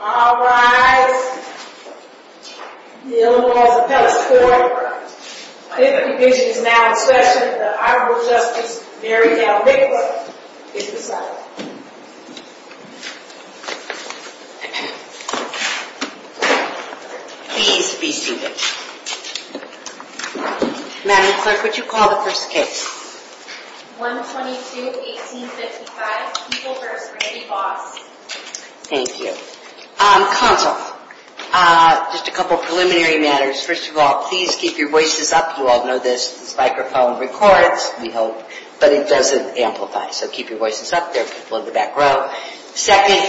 All rise. The Eleanor Laws Appellate's Court. 50 visions now in session. The Honorable Justice Mary Ann Rickler is beside me. Please be seated. Madam Clerk, would you call the first case? 122-1855. People first. Mary Boss. Thank you. Counsel, just a couple preliminary matters. First of all, please keep your voices up. You all know this. This microphone records, we hope, but it doesn't amplify. So keep your voices up. There are people in the back row. Second,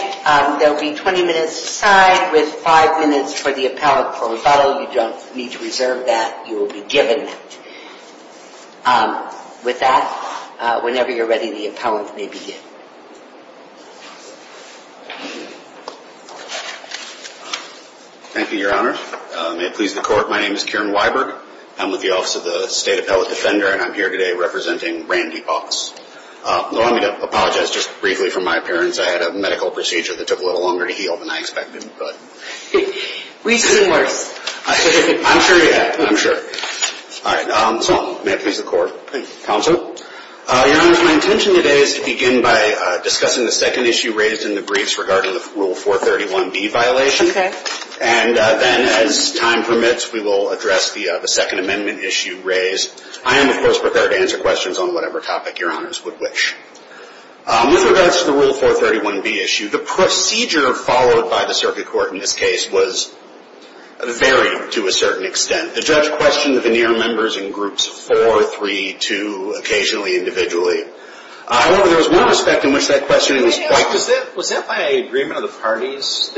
there will be 20 minutes aside with five minutes for the appellate for rebuttal. You don't need to reserve that. You will be given that. With that, whenever you're ready, the appellant may begin. Thank you, Your Honor. May it please the Court, my name is Kieran Weiberg. I'm with the Office of the State Appellate Defender, and I'm here today representing Randy Boss. Allow me to apologize just briefly for my appearance. I had a medical procedure that took a little longer to heal than I expected. We've seen worse. I'm sure you have. I'm sure. All right. So, may it please the Court. Counsel? Your Honor, my intention today is to begin by discussing the second issue raised in the briefs regarding the Rule 431B violation. Okay. And then, as time permits, we will address the Second Amendment issue raised. I am, of course, prepared to answer questions on whatever topic Your Honors would wish. With regards to the Rule 431B issue, the procedure followed by the Circuit Court in this case was varied to a certain extent. The judge questioned the veneer members in Groups 4, 3, 2, occasionally individually. However, there was one respect in which that questioning was quite… Was that by agreement of the parties,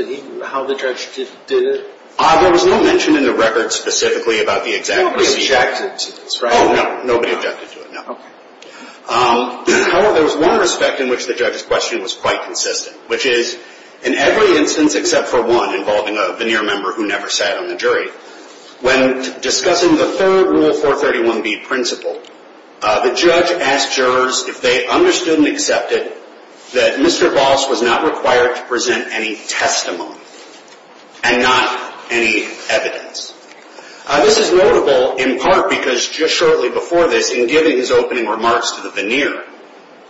how the judge did it? There was no mention in the record specifically about the exact procedure. Nobody objected to this, right? Oh, no. Nobody objected to it, no. However, there was one respect in which the judge's question was quite consistent, which is, in every instance except for one involving a veneer member who never sat on the jury, when discussing the third Rule 431B principle, the judge asked jurors if they understood and accepted that Mr. Voss was not required to present any testimony and not any evidence. This is notable in part because just shortly before this, in giving his opening remarks to the veneer,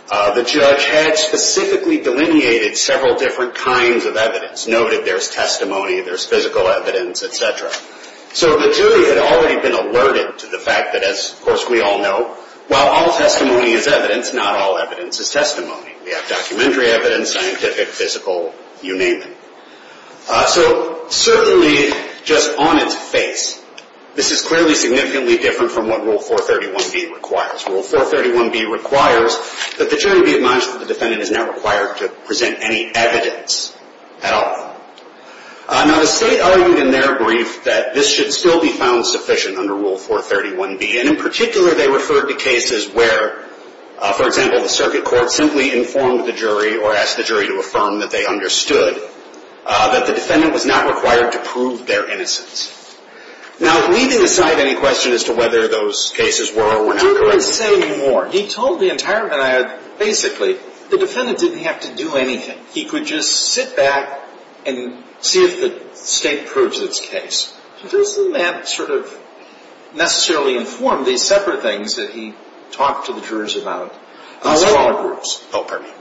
the judge had specifically delineated several different kinds of evidence, noted there's testimony, there's physical evidence, etc. So the jury had already been alerted to the fact that, as of course we all know, while all testimony is evidence, not all evidence is testimony. We have documentary evidence, scientific, physical, you name it. So certainly just on its face, this is clearly significantly different from what Rule 431B requires. Rule 431B requires that the jury be admonished that the defendant is not required to present any evidence at all. Now the State argued in their brief that this should still be found sufficient under Rule 431B, and in particular they referred to cases where, for example, the circuit court simply informed the jury or asked the jury to affirm that they understood that the defendant was not required to prove their innocence. Now leaving aside any question as to whether those cases were or were not correct. The juror is saying more. He told the entire veneer basically the defendant didn't have to do anything. He could just sit back and see if the State proves its case. Doesn't that sort of necessarily inform these separate things that he talked to the jurors about in smaller groups? Oh, pardon me.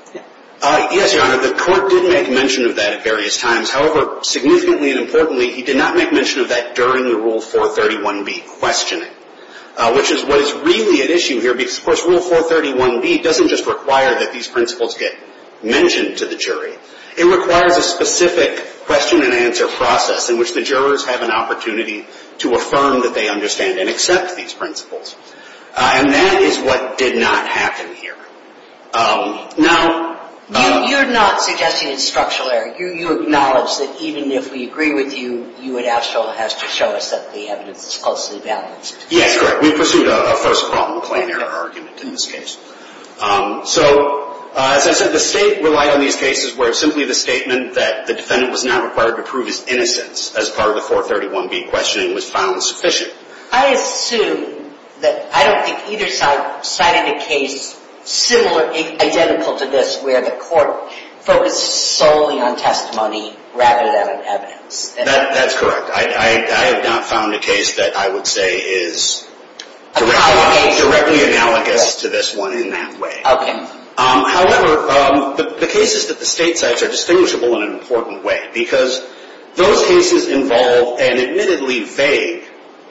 Yes, Your Honor. The court did make mention of that at various times. However, significantly and importantly, he did not make mention of that during the Rule 431B questioning, which is what is really at issue here because, of course, Rule 431B doesn't just require that these principles get mentioned to the jury. It requires a specific question-and-answer process in which the jurors have an opportunity to affirm that they understand and accept these principles. And that is what did not happen here. Now, you're not suggesting it's structural error. You acknowledge that even if we agree with you, you would have to show us that the evidence is falsely balanced. Yes, correct. We pursued a first-problem claim error argument in this case. So, as I said, the State relied on these cases where simply the statement that the defendant was not required to prove his innocence as part of the 431B questioning was found sufficient. I assume that I don't think either side cited a case similar, identical to this, where the court focused solely on testimony rather than on evidence. That's correct. I have not found a case that I would say is directly analogous to this one in that way. Okay. However, the cases that the State cites are distinguishable in an important way because those cases involve an admittedly vague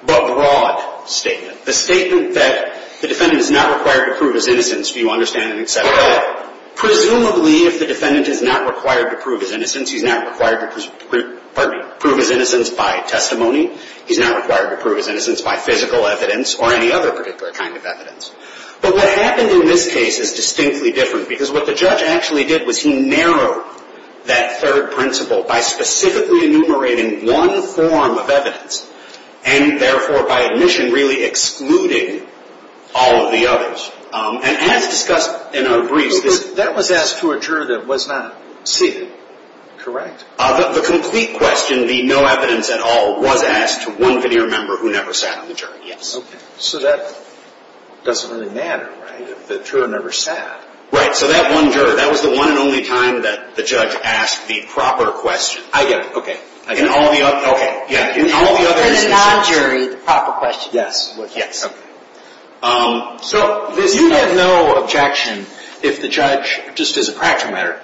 but broad statement. The statement that the defendant is not required to prove his innocence, do you understand, and et cetera. Presumably, if the defendant is not required to prove his innocence, he's not required to prove his innocence by testimony. He's not required to prove his innocence by physical evidence or any other particular kind of evidence. But what happened in this case is distinctly different because what the judge actually did was he narrowed that third principle by specifically enumerating one form of evidence and, therefore, by admission, really excluding all of the others. And as discussed in our briefs, this – That was asked to a juror that was not seated, correct? The complete question, the no evidence at all, was asked to one veneer member who never sat on the jury, yes. Okay. So that doesn't really matter, right, if the juror never sat? Right. So that one juror, that was the one and only time that the judge asked the proper question. I get it. Okay. In all the other – Okay. In the non-jury, the proper question was asked. Okay. So this – You have no objection if the judge, just as a practical matter,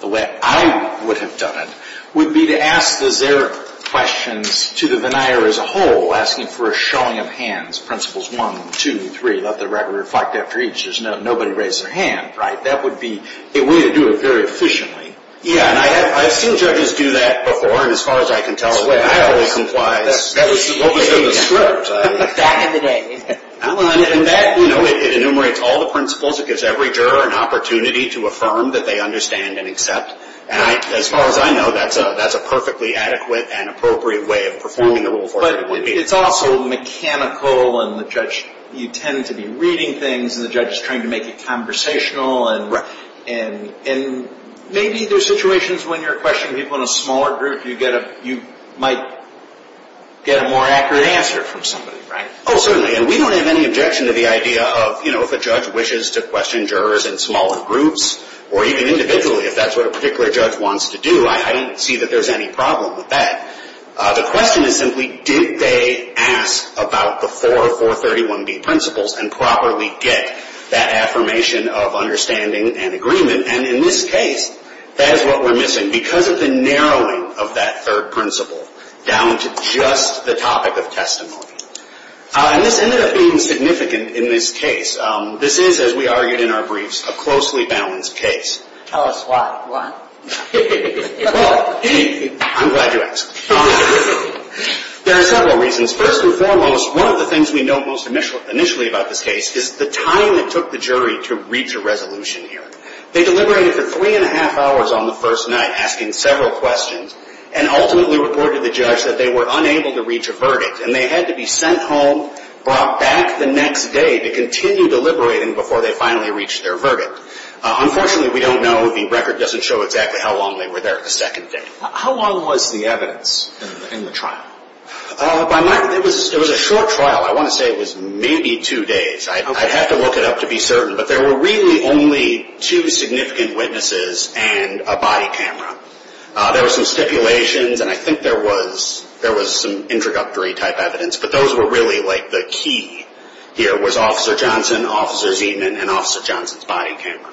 the way I would have done it, would be to ask the zero questions to the veneer as a whole, asking for a showing of hands, principles one, two, three, let the record reflect after each. There's no – nobody raised their hand, right? That would be a way to do it very efficiently. Yeah, and I've seen judges do that before, and as far as I can tell – That's the way I always complied. That was the – That was the script. Back in the day. And that, you know, it enumerates all the principles. It gives every juror an opportunity to affirm that they understand and accept. And as far as I know, that's a perfectly adequate and appropriate way of performing the rule of forfeiture. But it's also mechanical, and the judge – you tend to be reading things, and the judge is trying to make it conversational. Right. And maybe there's situations when you're questioning people in a smaller group, you get a – you might get a more accurate answer from somebody, right? Oh, certainly. And we don't have any objection to the idea of, you know, if a judge wishes to question jurors in smaller groups, or even individually, if that's what a particular judge wants to do, I don't see that there's any problem with that. The question is simply, did they ask about the four 431B principles and properly get that affirmation of understanding and agreement? And in this case, that is what we're missing because of the narrowing of that third principle down to just the topic of testimony. And this ended up being significant in this case. This is, as we argued in our briefs, a closely balanced case. Tell us why. Why? Well, I'm glad you asked. There are several reasons. First and foremost, one of the things we note most initially about this case is the time it took the jury to reach a resolution hearing. They deliberated for three and a half hours on the first night, asking several questions, and ultimately reported to the judge that they were unable to reach a verdict, and they had to be sent home, brought back the next day to continue deliberating before they finally reached their verdict. Unfortunately, we don't know. The record doesn't show exactly how long they were there the second day. How long was the evidence in the trial? It was a short trial. I want to say it was maybe two days. I'd have to look it up to be certain, but there were really only two significant witnesses and a body camera. There were some stipulations, and I think there was some introductory-type evidence, but those were really like the key here was Officer Johnson, Officer Zeman, and Officer Johnson's body camera.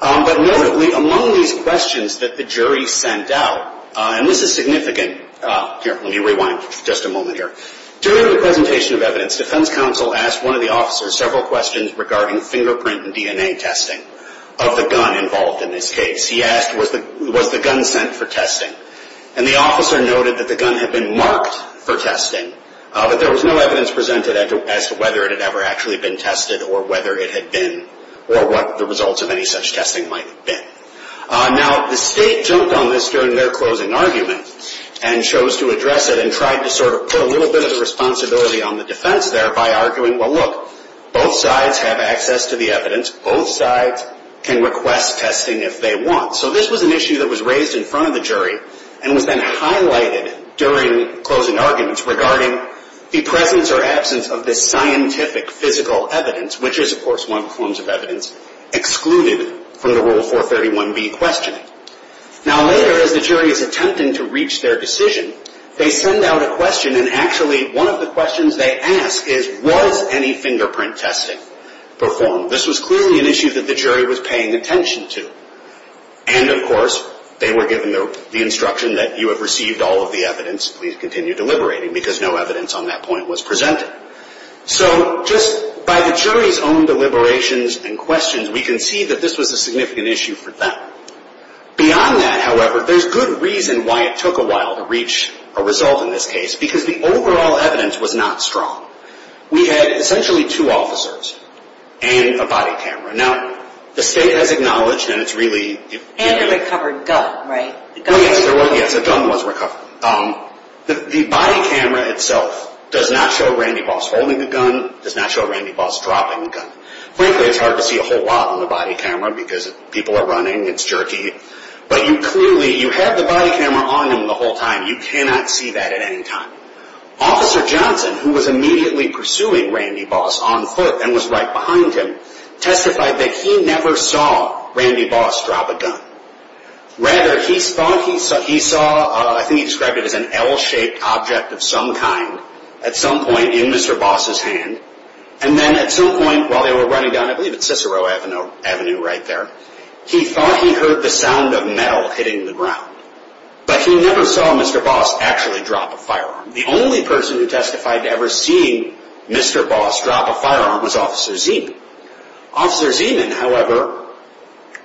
But notably, among these questions that the jury sent out, and this is significant. Let me rewind just a moment here. During the presentation of evidence, defense counsel asked one of the officers several questions regarding fingerprint and DNA testing of the gun involved in this case. He asked, was the gun sent for testing? And the officer noted that the gun had been marked for testing, but there was no evidence presented as to whether it had ever actually been tested or whether it had been or what the results of any such testing might have been. Now, the state jumped on this during their closing argument and chose to address it and tried to sort of put a little bit of the responsibility on the defense there by arguing, well, look, both sides have access to the evidence. Both sides can request testing if they want. So this was an issue that was raised in front of the jury and was then highlighted during closing arguments regarding the presence or absence of this scientific physical evidence, which is, of course, one of the forms of evidence excluded from the Rule 431B questioning. Now, later, as the jury is attempting to reach their decision, they send out a question, and actually one of the questions they ask is, was any fingerprint testing performed? This was clearly an issue that the jury was paying attention to. And, of course, they were given the instruction that you have received all of the evidence. Please continue deliberating because no evidence on that point was presented. So just by the jury's own deliberations and questions, we can see that this was a significant issue for them. Beyond that, however, there's good reason why it took a while to reach a result in this case because the overall evidence was not strong. We had essentially two officers and a body camera. Now, the state has acknowledged, and it's really... And a recovered gun, right? Yes, a gun was recovered. The body camera itself does not show Randy Boss holding the gun, does not show Randy Boss dropping the gun. Frankly, it's hard to see a whole lot on the body camera because people are running, it's jerky. But you clearly, you had the body camera on him the whole time. You cannot see that at any time. Officer Johnson, who was immediately pursuing Randy Boss on foot and was right behind him, testified that he never saw Randy Boss drop a gun. Rather, he thought he saw, I think he described it as an L-shaped object of some kind at some point in Mr. Boss's hand. And then at some point while they were running down, I believe it's Cicero Avenue right there, he thought he heard the sound of metal hitting the ground. But he never saw Mr. Boss actually drop a firearm. The only person who testified to ever seeing Mr. Boss drop a firearm was Officer Zeman. Officer Zeman, however,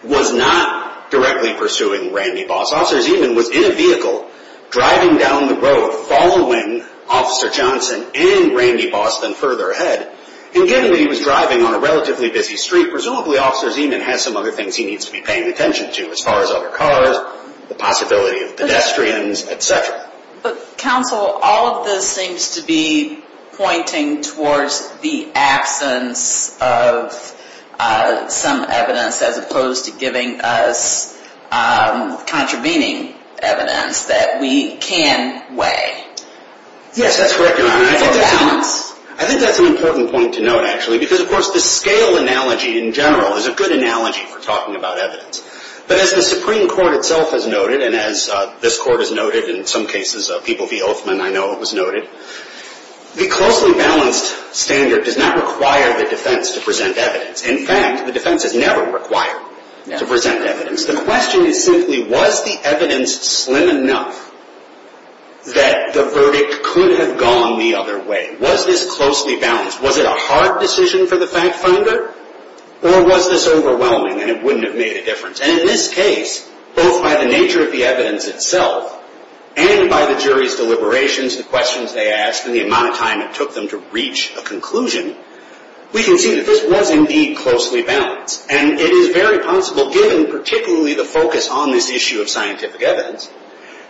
was not directly pursuing Randy Boss. Officer Zeman was in a vehicle driving down the road following Officer Johnson and Randy Boss then further ahead. And given that he was driving on a relatively busy street, presumably Officer Zeman had some other things he needs to be paying attention to as far as other cars, the possibility of pedestrians, et cetera. But counsel, all of this seems to be pointing towards the absence of some evidence as opposed to giving us contravening evidence that we can weigh. Yes, that's correct, Your Honor. For balance? I think that's an important point to note, actually, because of course the scale analogy in general is a good analogy for talking about evidence. But as the Supreme Court itself has noted, and as this Court has noted, and in some cases people of the Oathman, I know it was noted, the closely balanced standard does not require the defense to present evidence. In fact, the defense is never required to present evidence. The question is simply was the evidence slim enough that the verdict could have gone the other way? Was this closely balanced? Was it a hard decision for the fact finder? Or was this overwhelming and it wouldn't have made a difference? And in this case, both by the nature of the evidence itself and by the jury's deliberations and the questions they asked and the amount of time it took them to reach a conclusion, we can see that this was indeed closely balanced. And it is very possible, given particularly the focus on this issue of scientific evidence,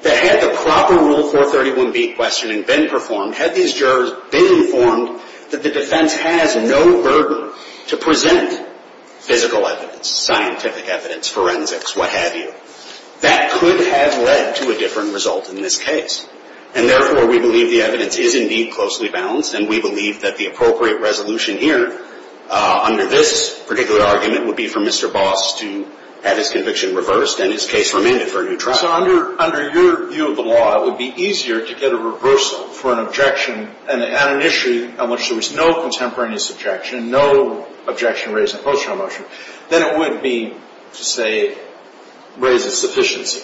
that had the proper Rule 431B questioning been performed, had these jurors been informed that the defense has no burden to present physical evidence, scientific evidence, forensics, what have you, that could have led to a different result in this case. And therefore, we believe the evidence is indeed closely balanced, and we believe that the appropriate resolution here under this particular argument would be for Mr. Boss to have his conviction reversed and his case remanded for a new trial. So under your view of the law, it would be easier to get a reversal for an objection at an issue on which there was no contemporaneous objection, no objection raised in a post-trial motion, than it would be to say raise a sufficiency.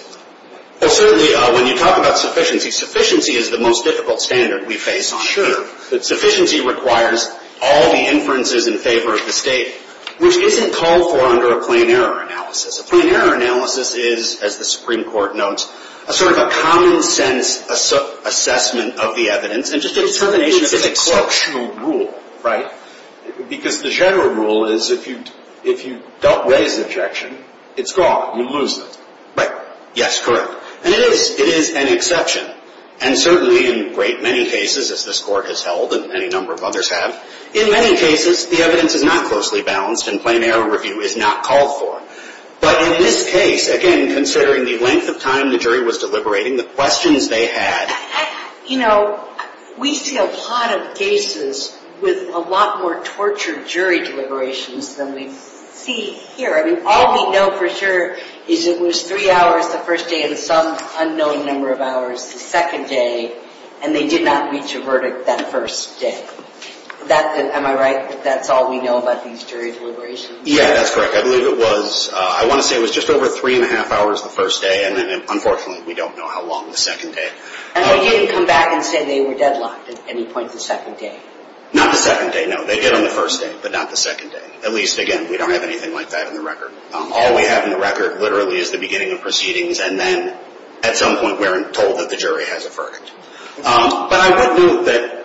Well, certainly, when you talk about sufficiency, sufficiency is the most difficult standard we face on here. But sufficiency requires all the inferences in favor of the State, which isn't called for under a plain error analysis. A plain error analysis is, as the Supreme Court notes, a sort of a common-sense assessment of the evidence and just a determination of its exceptional rule. Because the general rule is if you don't raise an objection, it's gone. You lose it. Right. Yes, correct. And it is. It is an exception. And certainly in great many cases, as this Court has held and any number of others have, in many cases, the evidence is not closely balanced and plain error review is not called for. But in this case, again, considering the length of time the jury was deliberating, the questions they had. You know, we see a lot of cases with a lot more tortured jury deliberations than we see here. I mean, all we know for sure is it was three hours the first day and some unknown number of hours the second day, and they did not reach a verdict that first day. Am I right that that's all we know about these jury deliberations? Yeah, that's correct. I believe it was, I want to say it was just over three and a half hours the first day, and then unfortunately we don't know how long the second day. And they didn't come back and say they were deadlocked at any point the second day? Not the second day, no. They did on the first day, but not the second day. At least, again, we don't have anything like that in the record. All we have in the record literally is the beginning of proceedings, and then at some point we're told that the jury has a verdict. But I would note that,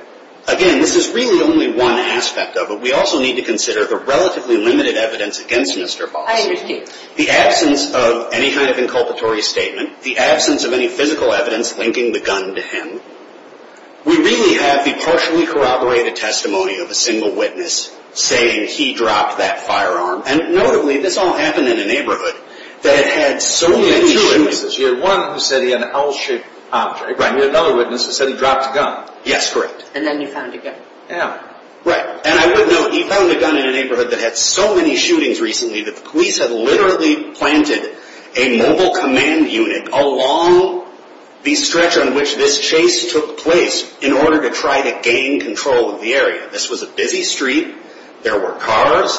again, this is really only one aspect of it. We also need to consider the relatively limited evidence against Mr. Voss. I understand. The absence of any kind of inculpatory statement, the absence of any physical evidence linking the gun to him, we really have the partially corroborated testimony of a single witness saying he dropped that firearm. And notably, this all happened in a neighborhood that had so many witnesses. You had one who said he had an L-shaped object. Right. And you had another witness who said he dropped a gun. Yes, correct. And then you found a gun. Yeah. Right. And I would note, he found a gun in a neighborhood that had so many shootings recently that the police had literally planted a mobile command unit along the stretch on which this chase took place in order to try to gain control of the area. This was a busy street. There were cars.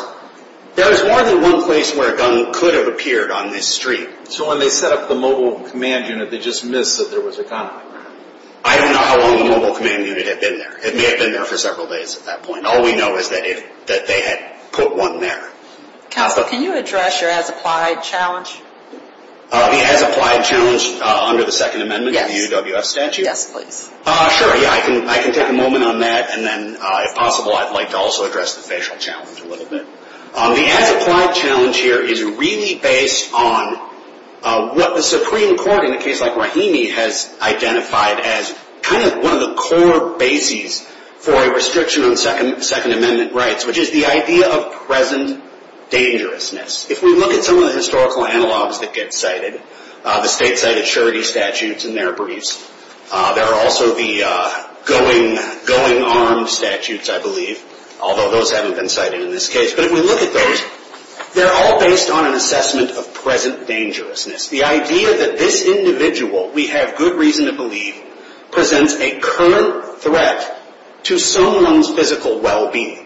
There was more than one place where a gun could have appeared on this street. So when they set up the mobile command unit, they just missed that there was a gun. I don't know how long the mobile command unit had been there. It may have been there for several days at that point. All we know is that they had put one there. Counsel, can you address your as-applied challenge? The as-applied challenge under the Second Amendment of the UWS statute? Yes, please. Sure. Yeah, I can take a moment on that, and then if possible, I'd like to also address the facial challenge a little bit. The as-applied challenge here is really based on what the Supreme Court in a case like Rahimi has identified as kind of one of the core bases for a restriction on Second Amendment rights, which is the idea of present dangerousness. If we look at some of the historical analogs that get cited, the state-cited surety statutes and their briefs, there are also the going armed statutes, I believe, although those haven't been cited in this case. But if we look at those, they're all based on an assessment of present dangerousness. The idea that this individual, we have good reason to believe, presents a current threat to someone's physical well-being.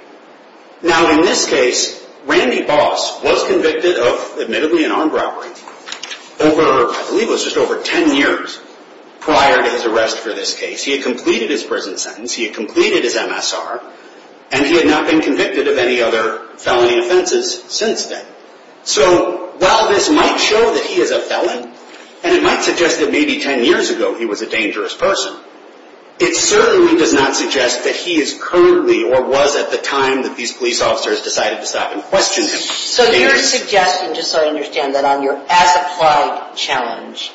Now, in this case, Randy Boss was convicted of, admittedly, an armed robbery over, I believe it was just over ten years prior to his arrest for this case. He had completed his prison sentence, he had completed his MSR, and he had not been convicted of any other felony offenses since then. So while this might show that he is a felon, and it might suggest that maybe ten years ago he was a dangerous person, it certainly does not suggest that he is currently or was at the time that these police officers decided to stop and question him. So you're suggesting, just so I understand, that on your as-applied challenge,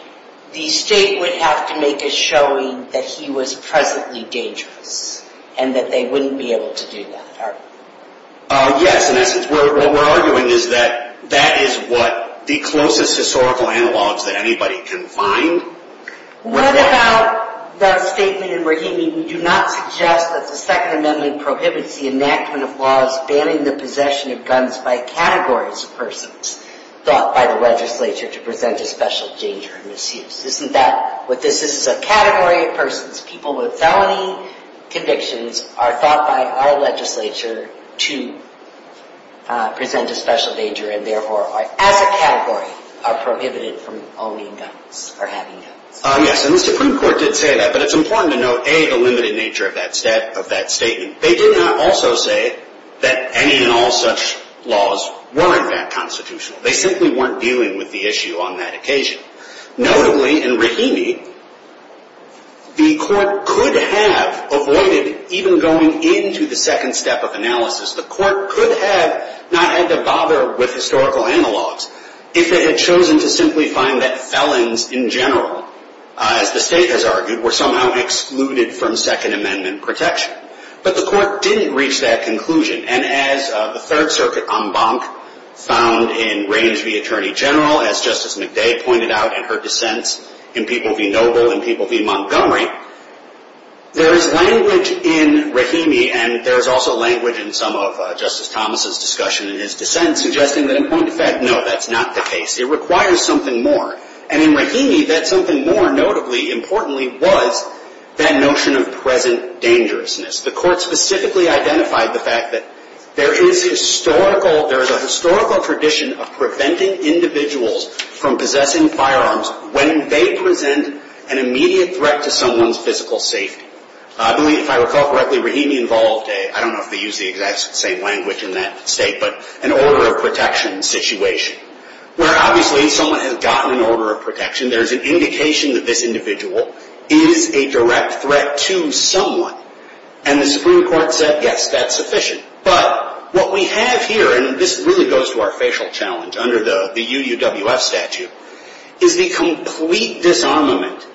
the state would have to make a showing that he was presently dangerous, and that they wouldn't be able to do that, are you? Yes, in essence, what we're arguing is that that is what the closest historical analogs that anybody can find. What about the statement in Rahimi, we do not suggest that the Second Amendment prohibits the enactment of laws banning the possession of guns by categories of persons thought by the legislature to present a special danger and misuse. This is a category of persons, people with felony convictions, are thought by our legislature to present a special danger, and therefore, as a category, are prohibited from owning guns or having guns. Yes, and the Supreme Court did say that, but it's important to note, A, the limited nature of that statement. They did not also say that any and all such laws weren't that constitutional. They simply weren't dealing with the issue on that occasion. Notably, in Rahimi, the court could have avoided even going into the second step of analysis. The court could have not had to bother with historical analogs if it had chosen to simply find that felons in general, as the state has argued, were somehow excluded from Second Amendment protection. But the court didn't reach that conclusion. And as the Third Circuit en banc found in Raines v. Attorney General, as Justice McDay pointed out in her dissents in People v. Noble and People v. Montgomery, there is language in Rahimi, and there is also language in some of Justice Thomas' discussion in his dissents, suggesting that, in point of fact, no, that's not the case. It requires something more. And in Rahimi, that something more, notably, importantly, was that notion of present dangerousness. The court specifically identified the fact that there is historical, there is a historical tradition of preventing individuals from possessing firearms when they present an immediate threat to someone's physical safety. I believe, if I recall correctly, Rahimi involved a, I don't know if they use the exact same language in that state, but an order of protection situation, where obviously someone has gotten an order of protection. There's an indication that this individual is a direct threat to someone. And the Supreme Court said, yes, that's sufficient. But what we have here, and this really goes to our facial challenge under the UUWF statute, is the complete disarmament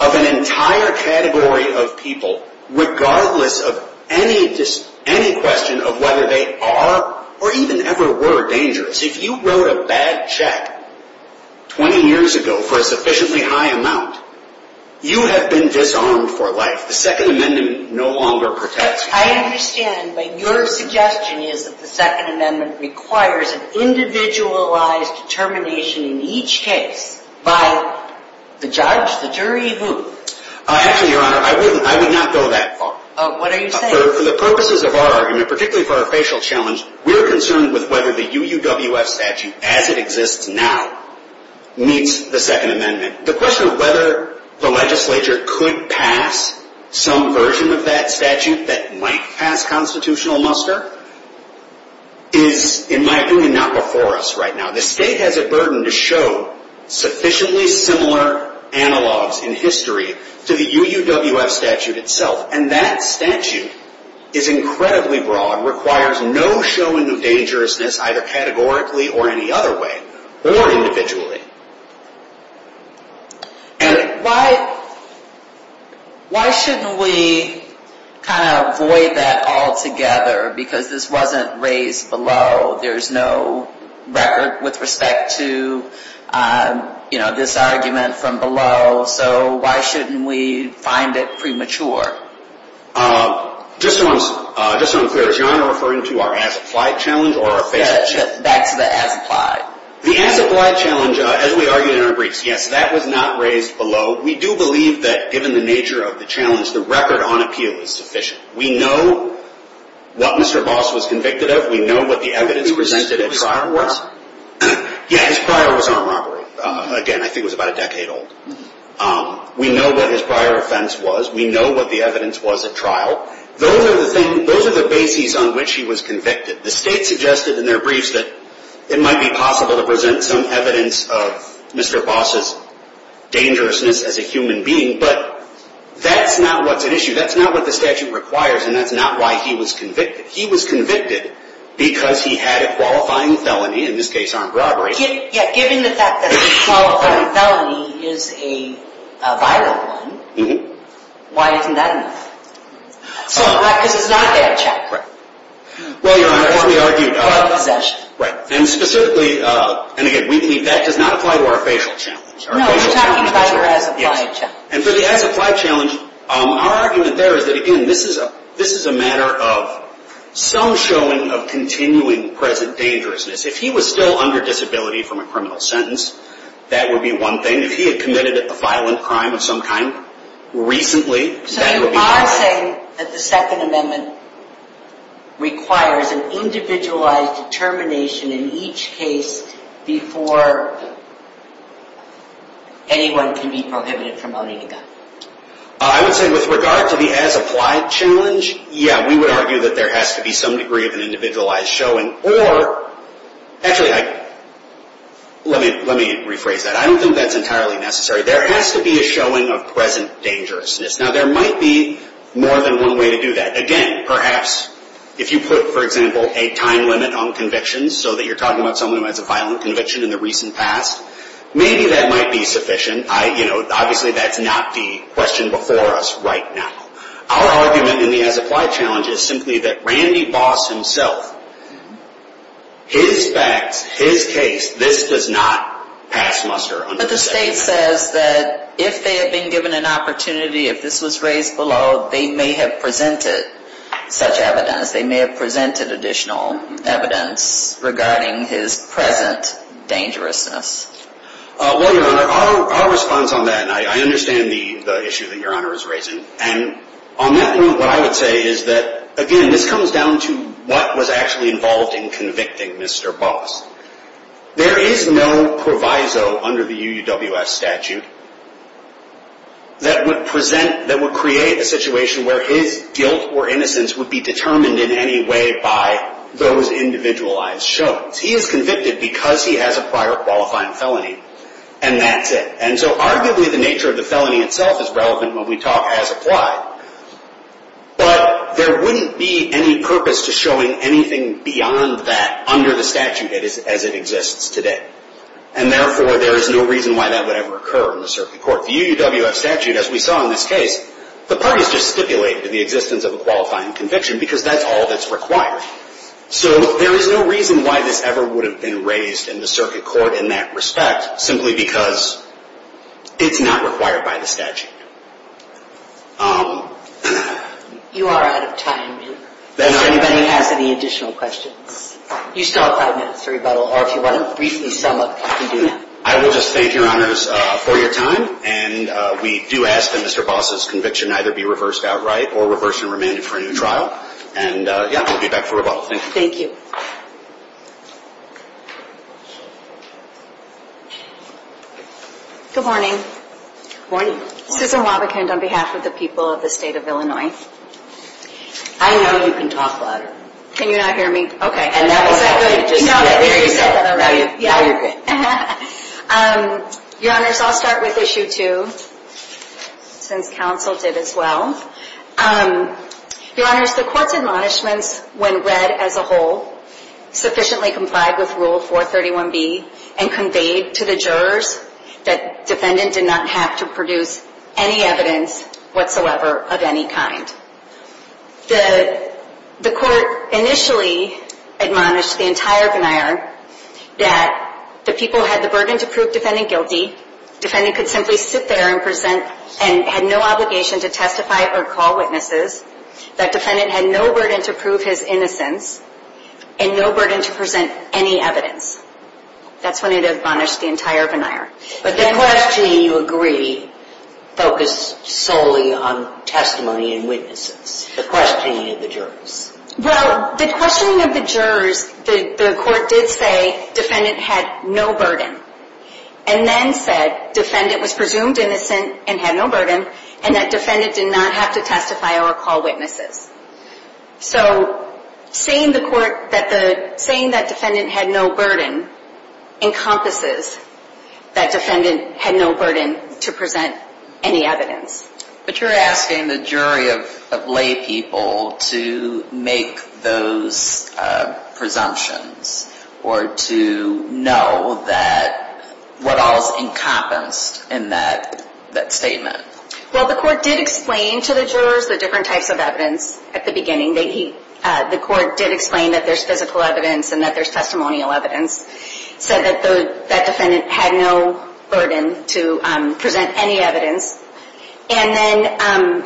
of an entire category of people, regardless of any question of whether they are or even ever were dangerous. If you wrote a bad check 20 years ago for a sufficiently high amount, you have been disarmed for life. The Second Amendment no longer protects you. I understand, but your suggestion is that the Second Amendment requires an individualized determination in each case by the judge, the jury, who? Actually, Your Honor, I would not go that far. What are you saying? For the purposes of our argument, particularly for our facial challenge, we're concerned with whether the UUWF statute, as it exists now, meets the Second Amendment. The question of whether the legislature could pass some version of that statute that might pass constitutional muster is, in my opinion, not before us right now. The state has a burden to show sufficiently similar analogs in history to the UUWF statute itself. And that statute is incredibly broad, requires no showing of dangerousness, either categorically or any other way, or individually. And why shouldn't we kind of avoid that altogether? Because this wasn't raised below. There's no record with respect to this argument from below. So why shouldn't we find it premature? Just so I'm clear, is Your Honor referring to our as-applied challenge or our facial challenge? Back to the as-applied. The as-applied challenge, as we argued in our briefs, yes, that was not raised below. We do believe that, given the nature of the challenge, the record on appeal is sufficient. We know what Mr. Boss was convicted of. We know what the evidence presented at trial was. Yeah, his prior was armed robbery. Again, I think it was about a decade old. We know what his prior offense was. We know what the evidence was at trial. Those are the bases on which he was convicted. The state suggested in their briefs that it might be possible to present some evidence of Mr. Boss's dangerousness as a human being. But that's not what's at issue. That's not what the statute requires. And that's not why he was convicted. He was convicted because he had a qualifying felony, in this case armed robbery. Yeah, given the fact that a qualifying felony is a viral one, why isn't that enough? Because it's not a bad check. Well, Your Honor, what we argued. Or a possession. Right. And specifically, and again, we believe that does not apply to our facial challenge. No, we're talking about your as-applied challenge. Our argument there is that, again, this is a matter of some showing of continuing present dangerousness. If he was still under disability from a criminal sentence, that would be one thing. If he had committed a violent crime of some kind recently, that would be another. So you are saying that the Second Amendment requires an individualized determination in each case before anyone can be prohibited from owning a gun? I would say with regard to the as-applied challenge, yeah, we would argue that there has to be some degree of an individualized showing. Or, actually, let me rephrase that. I don't think that's entirely necessary. There has to be a showing of present dangerousness. Now, there might be more than one way to do that. Again, perhaps if you put, for example, a time limit on convictions so that you're talking about someone who has a violent conviction in the recent past, maybe that might be sufficient. Obviously, that's not the question before us right now. Our argument in the as-applied challenge is simply that Randy Boss himself, his facts, his case, this does not pass muster. But the state says that if they had been given an opportunity, if this was raised below, they may have presented such evidence. They may have presented additional evidence regarding his present dangerousness. Well, Your Honor, our response on that, and I understand the issue that Your Honor is raising. And on that note, what I would say is that, again, this comes down to what was actually involved in convicting Mr. Boss. There is no proviso under the UUWS statute that would present, that would create a situation where his guilt or innocence would be determined in any way by those individualized shows. He is convicted because he has a prior qualifying felony, and that's it. And so arguably, the nature of the felony itself is relevant when we talk as-applied. But there wouldn't be any purpose to showing anything beyond that under the statute as it exists today. And therefore, there is no reason why that would ever occur in the circuit court. The UUWS statute, as we saw in this case, the parties just stipulated the existence of a qualifying conviction because that's all that's required. So there is no reason why this ever would have been raised in the circuit court in that respect, simply because it's not required by the statute. You are out of time. If anybody has any additional questions. You still have five minutes to rebuttal, or if you want to briefly sum up, you can do that. I will just thank Your Honors for your time. And we do ask that Mr. Boss's conviction either be reversed outright or reversed and remanded for a new trial. And, yeah, I'll be back for rebuttal. Thank you. Good morning. Good morning. Susan Wobbekind on behalf of the people of the State of Illinois. I know you can talk louder. Can you not hear me? Okay. And that was good. No, you said that already. Now you're good. Your Honors, I'll start with Issue 2, since counsel did as well. Your Honors, the court's admonishments, when read as a whole, sufficiently complied with Rule 431B and conveyed to the jurors that defendant did not have to produce any evidence whatsoever of any kind. The court initially admonished the entire veneer that the people had the burden to prove defendant guilty, defendant could simply sit there and present and had no obligation to testify or call witnesses, that defendant had no burden to prove his innocence, and no burden to present any evidence. That's when it admonished the entire veneer. But the questioning, you agree, focused solely on testimony and witnesses. The questioning of the jurors. Well, the questioning of the jurors, the court did say defendant had no burden, and then said defendant was presumed innocent and had no burden, and that defendant did not have to testify or call witnesses. So, saying that defendant had no burden encompasses that defendant had no burden to present any evidence. But you're asking the jury of lay people to make those presumptions, or to know what all is encompassed in that statement. Well, the court did explain to the jurors the different types of evidence at the beginning. The court did explain that there's physical evidence and that there's testimonial evidence, said that that defendant had no burden to present any evidence. And then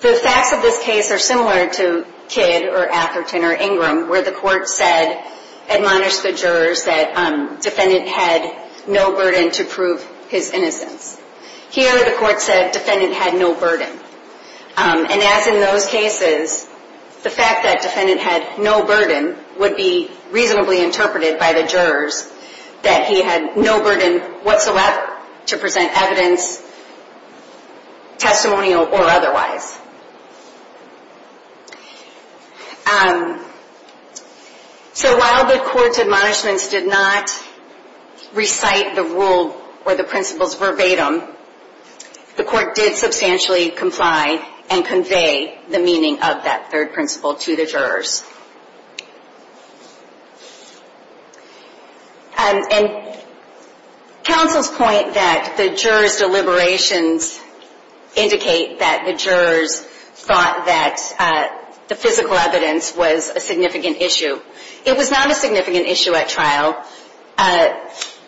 the facts of this case are similar to Kidd or Atherton or Ingram, where the court said, admonished the jurors, that defendant had no burden to prove his innocence. Here, the court said defendant had no burden. And as in those cases, the fact that defendant had no burden would be reasonably interpreted by the jurors that he had no burden whatsoever to present evidence, testimonial or otherwise. So, while the court's admonishments did not recite the rule or the principles verbatim, the court did substantially comply and convey the meaning of that third principle to the jurors. And counsel's point that the jurors' deliberations indicate that the jurors thought that the physical evidence was a significant issue. It was not a significant issue at trial.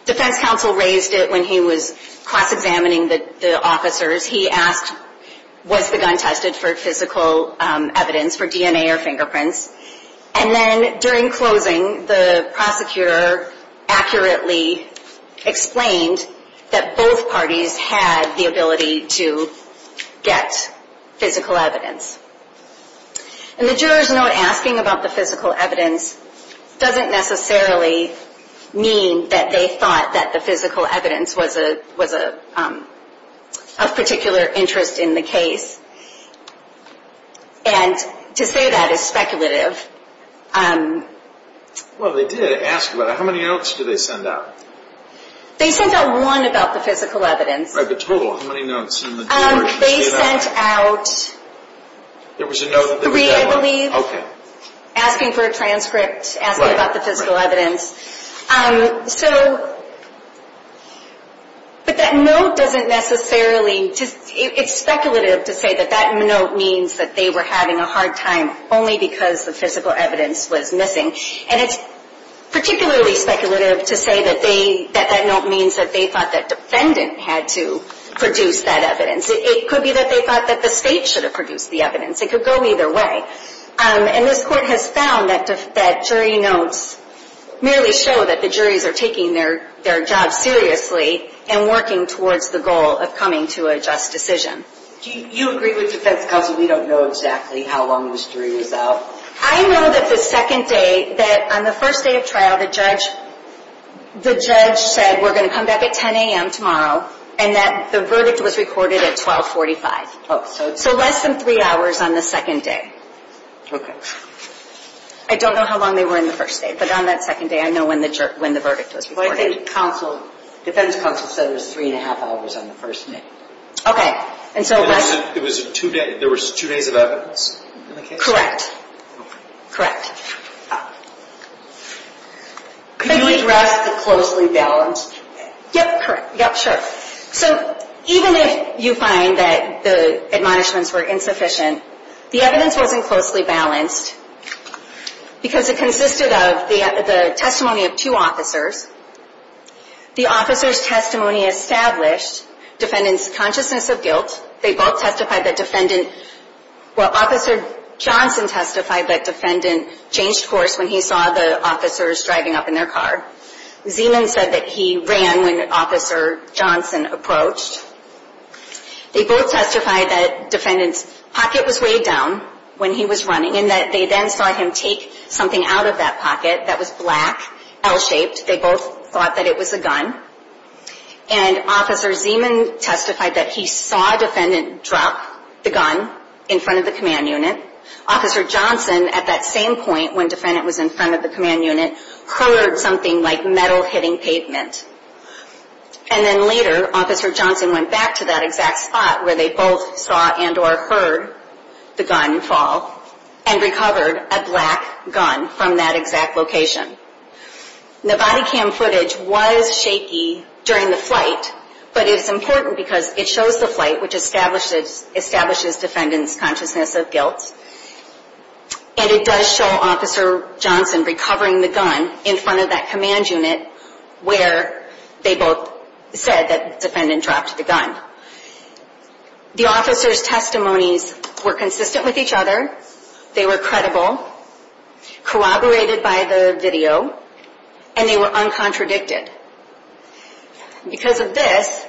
Defense counsel raised it when he was cross-examining the officers. He asked, was the gun tested for physical evidence, for DNA or fingerprints? And then, during closing, the prosecutor accurately explained that both parties had the ability to get physical evidence. And the jurors' note asking about the physical evidence doesn't necessarily mean that they thought that the physical evidence was of particular interest in the case. And to say that is speculative. Well, they did ask about it. How many notes did they send out? They sent out one about the physical evidence. Right, but total, how many notes did the jurors send out? They sent out three, I believe. Okay. Asking for a transcript, asking about the physical evidence. So, but that note doesn't necessarily, it's speculative to say that that note means that they were having a hard time only because the physical evidence was missing. And it's particularly speculative to say that that note means that they thought that defendant had to produce that evidence. It could be that they thought that the state should have produced the evidence. It could go either way. And this court has found that jury notes merely show that the juries are taking their job seriously and working towards the goal of coming to a just decision. Do you agree with defense counsel we don't know exactly how long this jury was out? I know that the second day, that on the first day of trial, the judge said, we're going to come back at 10 a.m. tomorrow, and that the verdict was recorded at 1245. So, less than three hours on the second day. I don't know how long they were in the first day, but on that second day, I know when the verdict was recorded. But I think counsel, defense counsel said it was three and a half hours on the first day. Okay. It was two days, there was two days of evidence in the case? Correct. Okay. Correct. Can you address the closely balanced two days? Yep, correct. Yep, sure. So, even if you find that the admonishments were insufficient, the evidence wasn't closely balanced because it consisted of the testimony of two officers. The officer's testimony established defendant's consciousness of guilt. They both testified that defendant, well, Officer Johnson testified that defendant changed course when he saw the officers driving up in their car. Zeman said that he ran when Officer Johnson approached. They both testified that defendant's pocket was way down when he was running, and that they then saw him take something out of that pocket that was black, L-shaped. They both thought that it was a gun. And Officer Zeman testified that he saw defendant drop the gun in front of the command unit. Officer Johnson, at that same point, when defendant was in front of the command unit, heard something like metal hitting pavement. And then later, Officer Johnson went back to that exact spot where they both saw and or heard the gun fall and recovered a black gun from that exact location. The body cam footage was shaky during the flight, but it's important because it shows the flight, which establishes defendant's consciousness of guilt. And it does show Officer Johnson recovering the gun in front of that command unit where they both said that defendant dropped the gun. The officers' testimonies were consistent with each other. They were credible, corroborated by the video, and they were uncontradicted. Because of this,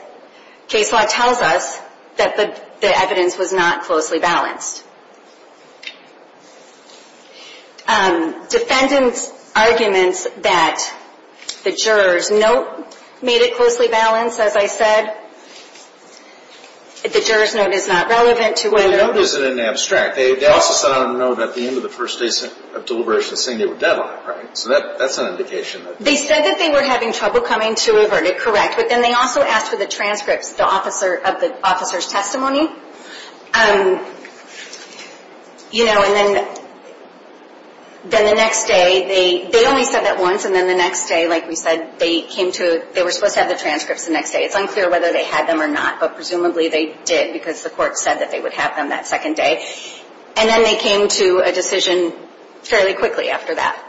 case law tells us that the evidence was not closely balanced. Defendant's arguments that the juror's note made it closely balanced, as I said, the juror's note is not relevant to whether... They also sent out a note at the end of the first day of deliberation saying they were dead on it, right? So that's an indication. They said that they were having trouble coming to a verdict, correct. But then they also asked for the transcripts of the officer's testimony. You know, and then the next day, they only said that once. And then the next day, like we said, they were supposed to have the transcripts the next day. It's unclear whether they had them or not, but presumably they did because the court said that they would have them that second day. And then they came to a decision fairly quickly after that.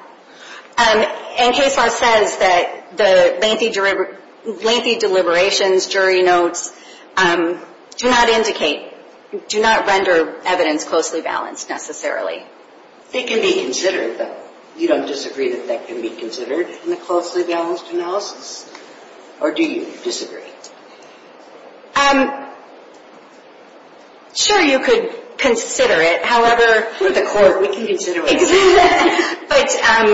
And case law says that the lengthy deliberations, jury notes, do not indicate, do not render evidence closely balanced necessarily. It can be considered, though. You don't disagree that that can be considered in a closely balanced analysis? Or do you disagree? Sure, you could consider it. However... For the court, we can consider it. But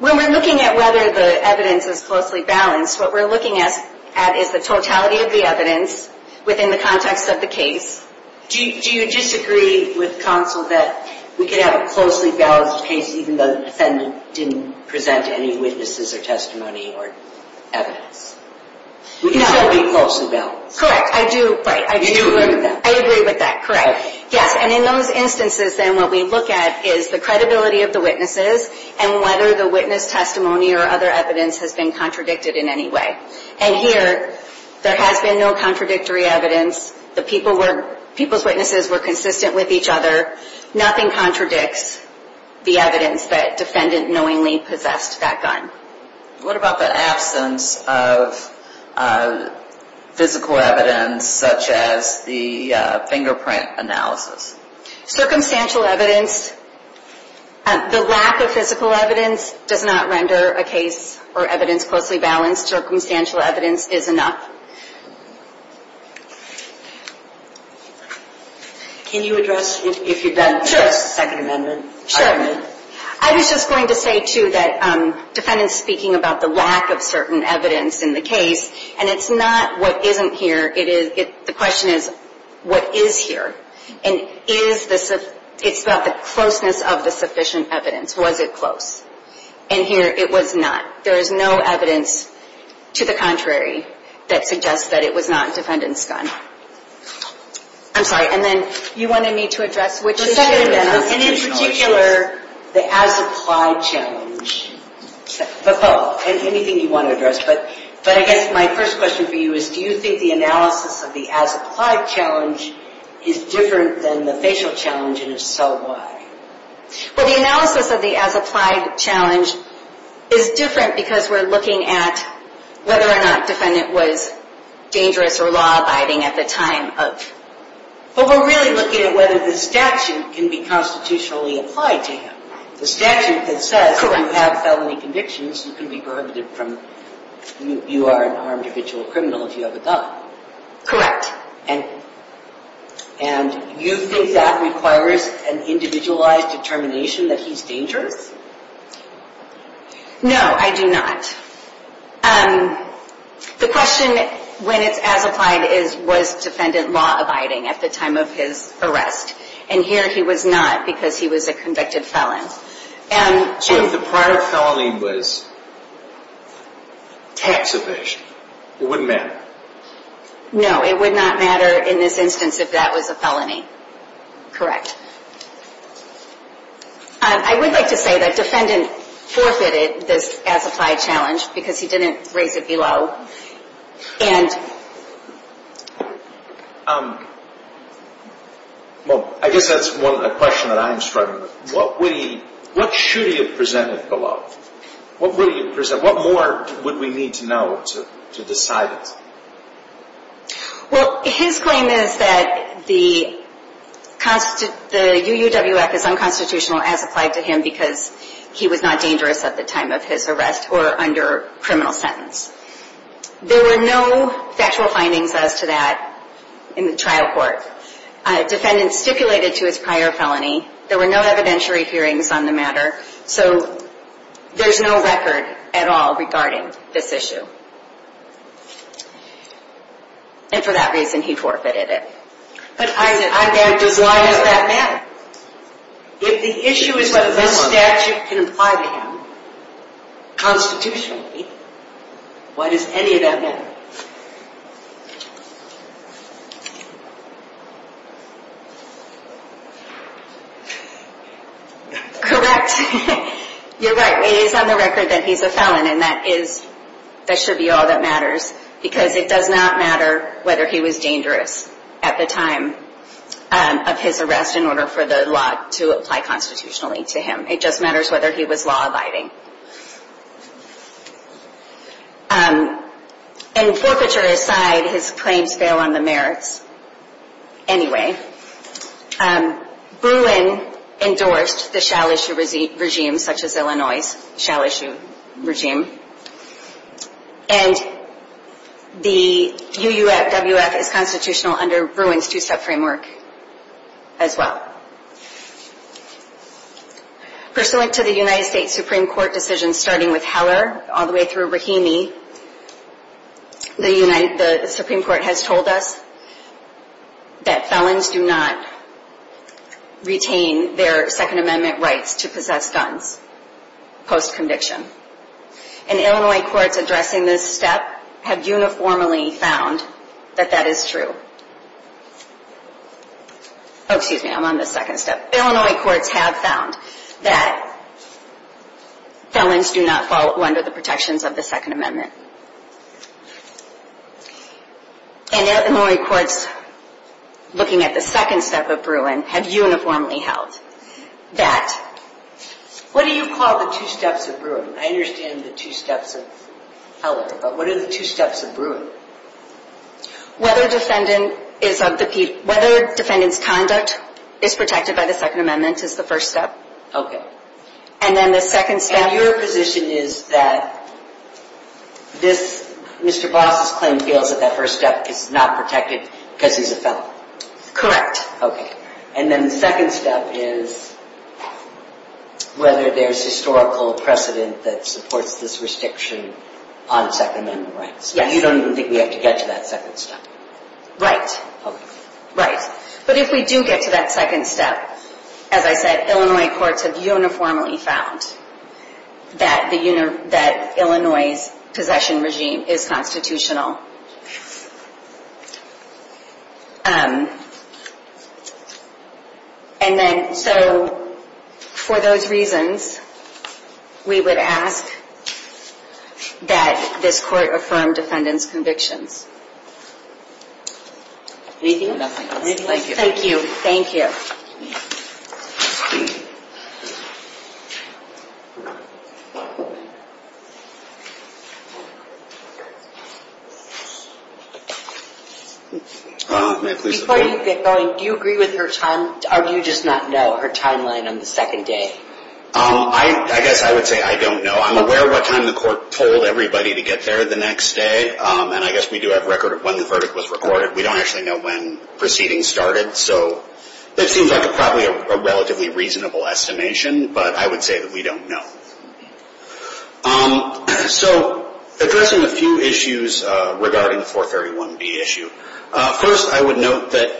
when we're looking at whether the evidence is closely balanced, what we're looking at is the totality of the evidence within the context of the case. Do you disagree with counsel that we can have a closely balanced case even though the defendant didn't present any witnesses or testimony or evidence? We can have it be closely balanced. Correct, I do. You do agree with that. I agree with that, correct. Yes, and in those instances, then, what we look at is the credibility of the witnesses and whether the witness testimony or other evidence has been contradicted in any way. And here, there has been no contradictory evidence. The people were, people's witnesses were consistent with each other. Nothing contradicts the evidence that defendant knowingly possessed that gun. What about the absence of physical evidence such as the fingerprint analysis? Circumstantial evidence, the lack of physical evidence does not render a case or evidence closely balanced. Circumstantial evidence is enough. Can you address, if you'd like to address the Second Amendment? Sure. I was just going to say, too, that defendant's speaking about the lack of certain evidence in the case, and it's not what isn't here. It is, the question is, what is here? And is the, it's about the closeness of the sufficient evidence. Was it close? And here, it was not. There is no evidence to the contrary that suggests that it was not defendant's gun. I'm sorry, and then, you wanted me to address which issue? And in particular, the as-applied challenge. Anything you want to address, but I guess my first question for you is, do you think the analysis of the as-applied challenge is different than the facial challenge, and if so, why? Well, the analysis of the as-applied challenge is different because we're looking at whether or not defendant was dangerous or law-abiding at the time of. But we're really looking at whether the statute can be constitutionally applied to him. The statute that says you have felony convictions, you can be prohibited from, you are an armed individual criminal if you have a gun. Correct. And you think that requires an individualized determination that he's dangerous? No, I do not. The question when it's as-applied is, was defendant law-abiding at the time of his arrest? And here, he was not because he was a convicted felon. So if the prior felony was tax evasion, it wouldn't matter? No, it would not matter in this instance if that was a felony. Correct. I would like to say that defendant forfeited this as-applied challenge because he didn't raise it below. Well, I guess that's a question that I'm struggling with. What should he have presented below? What more would we need to know to decide it? Well, his claim is that the UUWF is unconstitutional as-applied to him because he was not dangerous at the time of his arrest or under criminal sentence. There were no factual findings as to that in the trial court. Defendant stipulated to his prior felony. There were no evidentiary hearings on the matter. So there's no record at all regarding this issue. And for that reason, he forfeited it. But why does that matter? If the issue is what this statute can apply to him, constitutionally, why does any of that matter? Correct. You're right. It is on the record that he's a felon, and that should be all that matters. Because it does not matter whether he was dangerous at the time of his arrest in order for the law to apply constitutionally to him. It just matters whether he was law-abiding. And forfeiture aside, his claims fail on the merits. Anyway, Bruin endorsed the shall-issue regime, such as Illinois' shall-issue regime. And the UUFWF is constitutional under Bruin's two-step framework as well. Pursuant to the United States Supreme Court decision starting with Heller all the way through Rahimi, the Supreme Court has told us that felons do not retain their Second Amendment rights to possess guns post-conviction. And Illinois courts addressing this step have uniformly found that that is true. Oh, excuse me, I'm on the second step. Illinois courts have found that felons do not fall under the protections of the Second Amendment. And Illinois courts, looking at the second step of Bruin, have uniformly held that... What do you call the two steps of Bruin? I understand the two steps of Heller, but what are the two steps of Bruin? Whether defendant is of the... Whether defendant's conduct is protected by the Second Amendment is the first step. And then the second step... And your position is that this... Mr. Boss' claim feels that that first step is not protected because he's a felon. Correct. Okay. And then the second step is whether there's historical precedent that supports this restriction on Second Amendment rights. You don't even think we have to get to that second step. Right. Okay. Right. But if we do get to that second step, as I said, Illinois courts have uniformly found that Illinois' possession regime is constitutional. And then, so, for those reasons, we would ask that this court affirm defendant's convictions. Anything else? Thank you. Thank you. Thank you. Before you get going, do you agree with her time, or do you just not know her timeline on the second day? I guess I would say I don't know. I'm aware what time the court told everybody to get there the next day. And I guess we do have record of when the verdict was recorded. We don't actually know when proceedings started. So it seems like probably a relatively reasonable estimation, but I would say that we don't know. So addressing a few issues regarding the 431B issue. First, I would note that,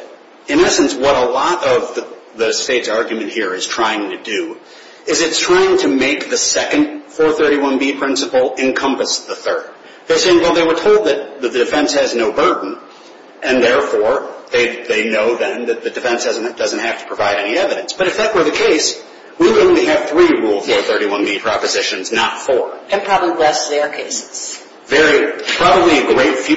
in essence, what a lot of the state's argument here is trying to do is it's trying to make the second 431B principle encompass the third. They're saying, well, they were told that the defense has no burden. And, therefore, they know then that the defense doesn't have to provide any evidence. But if that were the case, we would only have three Rule 431B propositions, not four. And probably less Zaire cases. Very, probably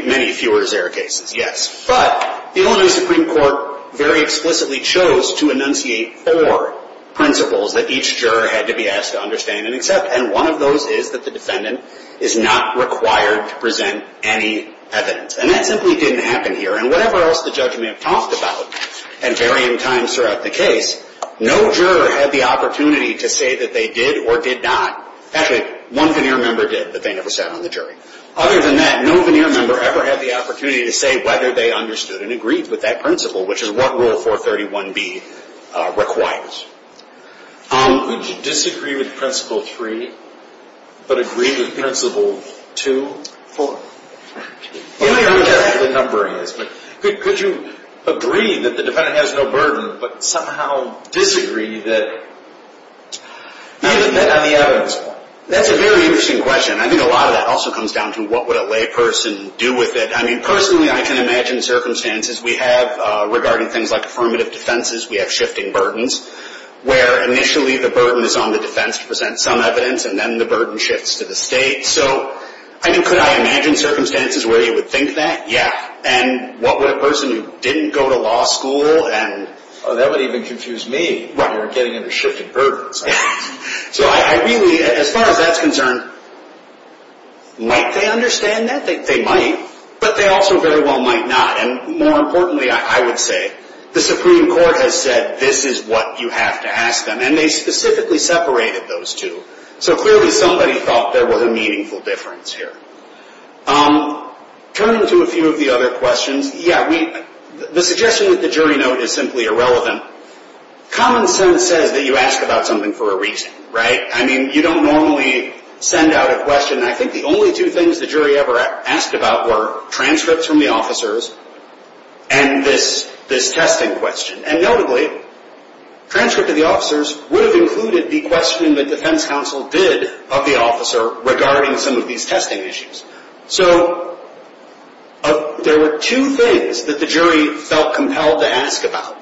many fewer Zaire cases, yes. But the Illinois Supreme Court very explicitly chose to enunciate four principles that each juror had to be asked to understand and accept. And one of those is that the defendant is not required to present any evidence. And that simply didn't happen here. And whatever else the judge may have talked about at varying times throughout the case, no juror had the opportunity to say that they did or did not. Actually, one veneer member did, but they never sat on the jury. Other than that, no veneer member ever had the opportunity to say whether they understood and agreed with that principle, which is what Rule 431B requires. Would you disagree with Principle 3, but agree with Principle 2? Well, I don't know exactly what the number is. But could you agree that the defendant has no burden, but somehow disagree that he hasn't met on the evidence? That's a very interesting question. I think a lot of that also comes down to what would a lay person do with it. I mean, personally, I can imagine circumstances we have regarding things like affirmative defenses. We have shifting burdens, where initially the burden is on the defense to present some evidence, and then the burden shifts to the state. So, I mean, could I imagine circumstances where you would think that? Yeah. And what would a person who didn't go to law school and… Oh, that would even confuse me. Right. You're getting into shifted burdens. So I really, as far as that's concerned, might they understand that? They might. But they also very well might not. And more importantly, I would say, the Supreme Court has said this is what you have to ask them. And they specifically separated those two. So clearly somebody thought there was a meaningful difference here. Turning to a few of the other questions, yeah, the suggestion that the jury note is simply irrelevant. Common sense says that you ask about something for a reason, right? I mean, you don't normally send out a question. And I think the only two things the jury ever asked about were transcripts from the officers and this testing question. And notably, transcript of the officers would have included the question the defense counsel did of the officer regarding some of these testing issues. So there were two things that the jury felt compelled to ask about.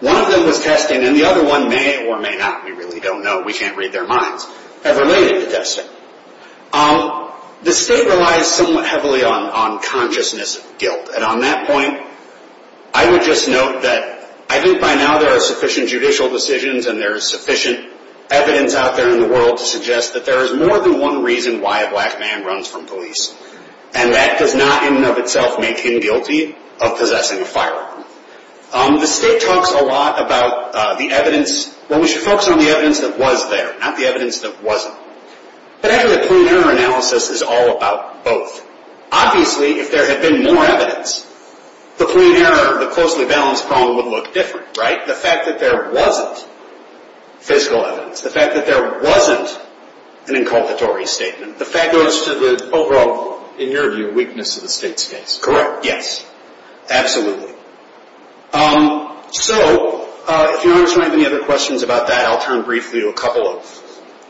One of them was testing, and the other one may or may not, we really don't know, we can't read their minds, have related to testing. The state relies somewhat heavily on consciousness of guilt. And on that point, I would just note that I think by now there are sufficient judicial decisions and there is sufficient evidence out there in the world to suggest that there is more than one reason why a black man runs from police. And that does not in and of itself make him guilty of possessing a firearm. The state talks a lot about the evidence, well, we should focus on the evidence that was there, not the evidence that wasn't. But actually, the point of error analysis is all about both. Obviously, if there had been more evidence, the point of error, the closely balanced problem would look different, right? The fact that there wasn't physical evidence, the fact that there wasn't an inculpatory statement, the fact goes to the overall, in your view, weakness of the state's case. Correct. Yes, absolutely. So, if your honors don't have any other questions about that, I'll turn briefly to a couple of...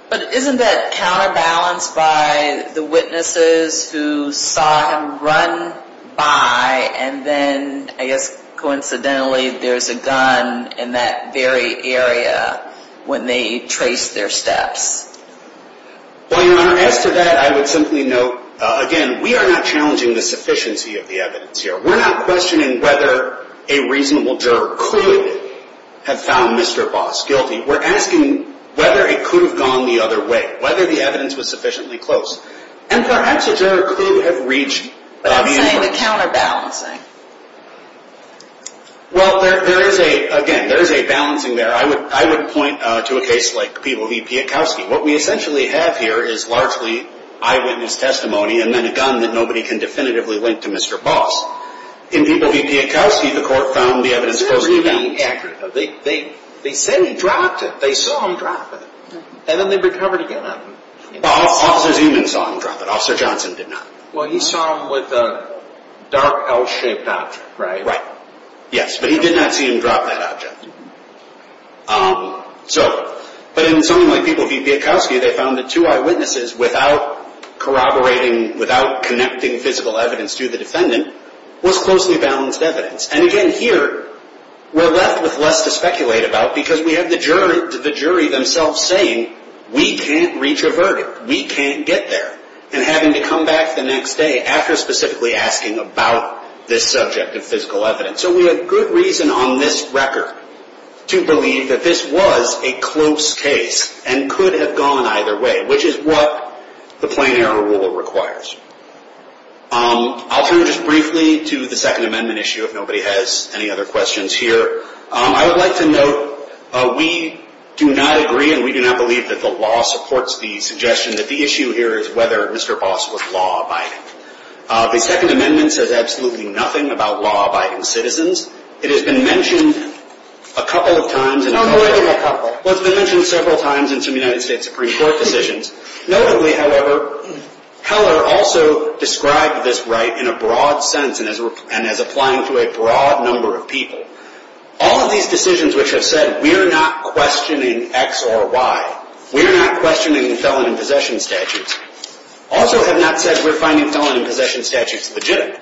But isn't that counterbalanced by the witnesses who saw him run by and then, I guess coincidentally, there's a gun in that very area when they traced their steps? Well, your honor, as to that, I would simply note, again, we are not challenging the sufficiency of the evidence here. We're not questioning whether a reasonable juror could have found Mr. Boss guilty. We're asking whether it could have gone the other way, whether the evidence was sufficiently close. And perhaps a juror could have reached... But I'm saying the counterbalancing. Well, there is a, again, there is a balancing there. I would point to a case like Peeble v. Piekowski. What we essentially have here is largely eyewitness testimony and then a gun that nobody can definitively link to Mr. Boss. In Peeble v. Piekowski, the court found the evidence closely balanced. They said he dropped it. They saw him drop it. And then they recovered a gun on him. Well, Officer Zuman saw him drop it. Officer Johnson did not. Well, he saw him with a dark L-shaped object, right? Right. Yes, but he did not see him drop that object. But in something like Peeble v. Piekowski, they found that two eyewitnesses, without corroborating, without connecting physical evidence to the defendant, was closely balanced evidence. And again, here, we're left with less to speculate about because we have the jury themselves saying, we can't reach a verdict. We can't get there. And having to come back the next day after specifically asking about this subject of physical evidence. So we have good reason on this record to believe that this was a close case and could have gone either way, which is what the plain error rule requires. I'll turn just briefly to the Second Amendment issue, if nobody has any other questions here. I would like to note, we do not agree and we do not believe that the law supports the suggestion that the issue here is whether Mr. Boss was law-abiding. The Second Amendment says absolutely nothing about law-abiding citizens. It has been mentioned a couple of times. It's been mentioned several times in some United States Supreme Court decisions. Notably, however, Heller also described this right in a broad sense and as applying to a broad number of people. All of these decisions which have said we are not questioning X or Y, we are not questioning felon in possession statutes, also have not said we're finding felon in possession statutes legitimate.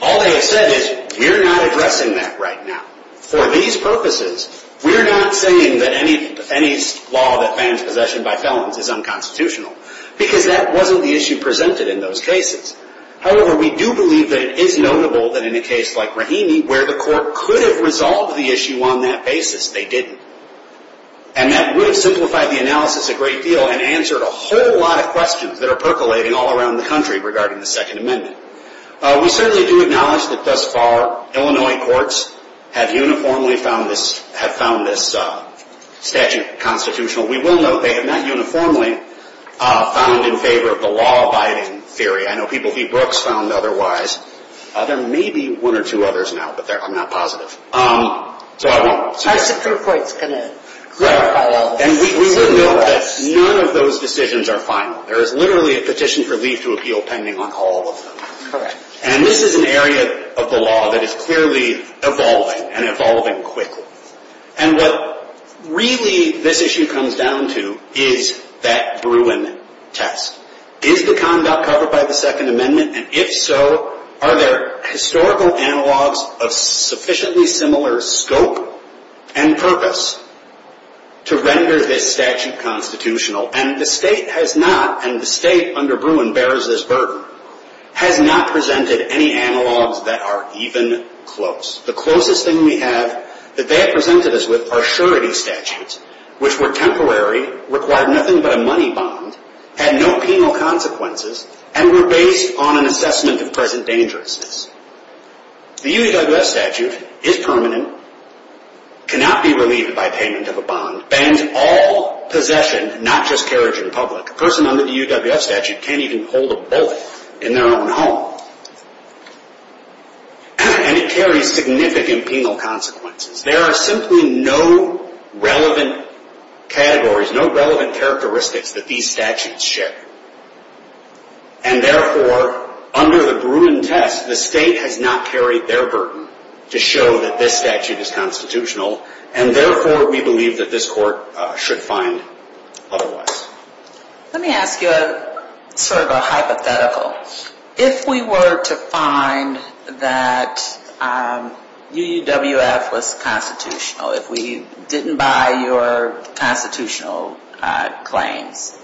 All they have said is, we are not addressing that right now. For these purposes, we are not saying that any law that bans possession by felons is unconstitutional because that wasn't the issue presented in those cases. However, we do believe that it is notable that in a case like Rahimi, where the court could have resolved the issue on that basis, they didn't. And that would have simplified the analysis a great deal and answered a whole lot of questions that are percolating all around the country regarding the Second Amendment. We certainly do acknowledge that thus far, Illinois courts have uniformly found this statute constitutional. We will note they have not uniformly found in favor of the law-abiding theory. I know people v. Brooks found otherwise. There may be one or two others now, but I'm not positive. Our Supreme Court's going to clarify all this. We will note that none of those decisions are final. There is literally a petition for leave to appeal pending on all of them. And this is an area of the law that is clearly evolving and evolving quickly. And what really this issue comes down to is that Bruin test. Is the conduct covered by the Second Amendment? And if so, are there historical analogs of sufficiently similar scope and purpose to render this statute constitutional? And the state has not, and the state under Bruin bears this burden, has not presented any analogs that are even close. The closest thing we have that they have presented us with are surety statutes, which were temporary, required nothing but a money bond, had no penal consequences, and were based on an assessment of present dangerousness. The U.S. statute is permanent, cannot be relieved by payment of a bond, bans all possession, not just carriage in public. A person under the UWF statute can't even hold a bullet in their own home. And it carries significant penal consequences. There are simply no relevant categories, no relevant characteristics that these statutes share. And therefore, under the Bruin test, the state has not carried their burden to show that this statute is constitutional. And therefore, we believe that this court should find otherwise. Let me ask you sort of a hypothetical. If we were to find that UWF was constitutional, if we didn't buy your constitutional claims,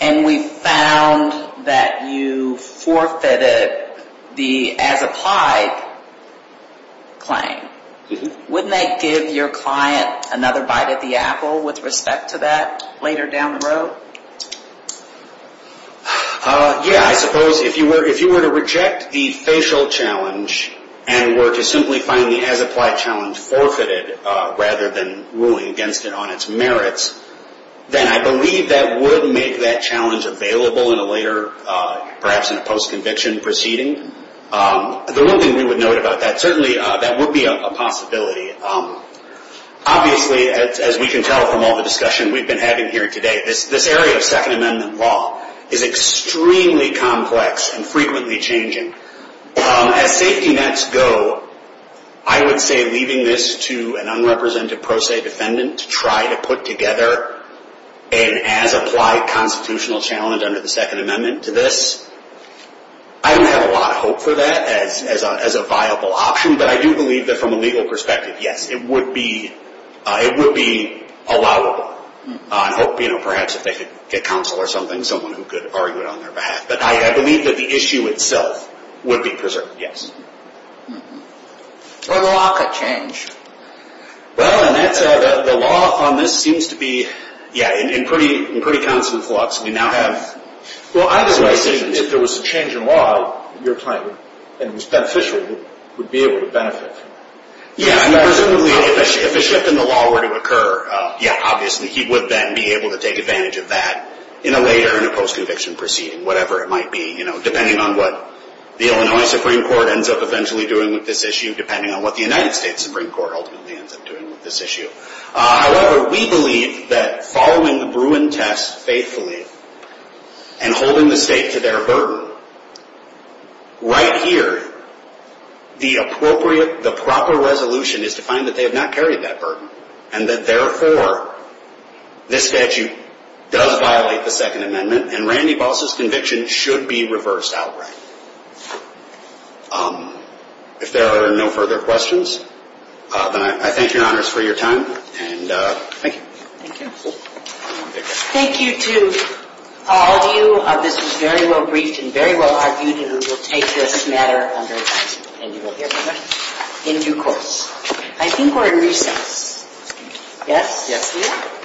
and we found that you forfeited the as-applied claim, wouldn't that give your client another bite at the apple with respect to that later down the road? Yeah, I suppose if you were to reject the facial challenge, and were to simply find the as-applied challenge forfeited rather than ruling against it on its merits, then I believe that would make that challenge available in a later, perhaps in a post-conviction proceeding. The one thing we would note about that, certainly that would be a possibility. Obviously, as we can tell from all the discussion we've been having here today, this area of Second Amendment law is extremely complex and frequently changing. As safety nets go, I would say leaving this to an unrepresented pro se defendant to try to put together an as-applied constitutional challenge under the Second Amendment to this, I don't have a lot of hope for that as a viable option. But I do believe that from a legal perspective, yes, it would be allowable. I hope, you know, perhaps if they could get counsel or something, someone who could argue it on their behalf. But I believe that the issue itself would be preserved, yes. Or the law could change. Well, and the law on this seems to be, yeah, in pretty constant flux. Well, either way, if there was a change in law, your client, and it was beneficial, would be able to benefit. Yeah, and presumably if a shift in the law were to occur, yeah, obviously he would then be able to take advantage of that in a later, in a post-conviction proceeding, whatever it might be, you know, depending on what the Illinois Supreme Court ends up eventually doing with this issue, depending on what the United States Supreme Court ultimately ends up doing with this issue. However, we believe that following the Bruin test faithfully and holding the state to their burden, right here, the appropriate, the proper resolution is to find that they have not carried that burden, and that, therefore, this statute does violate the Second Amendment, and Randy Boss' conviction should be reversed outright. If there are no further questions, then I thank your honors for your time, and thank you. Thank you. Thank you to all of you. This was very well briefed and very well argued, and we will take this matter under account, and you will hear from us in due course. I think we are in recess. Yes? Yes we are.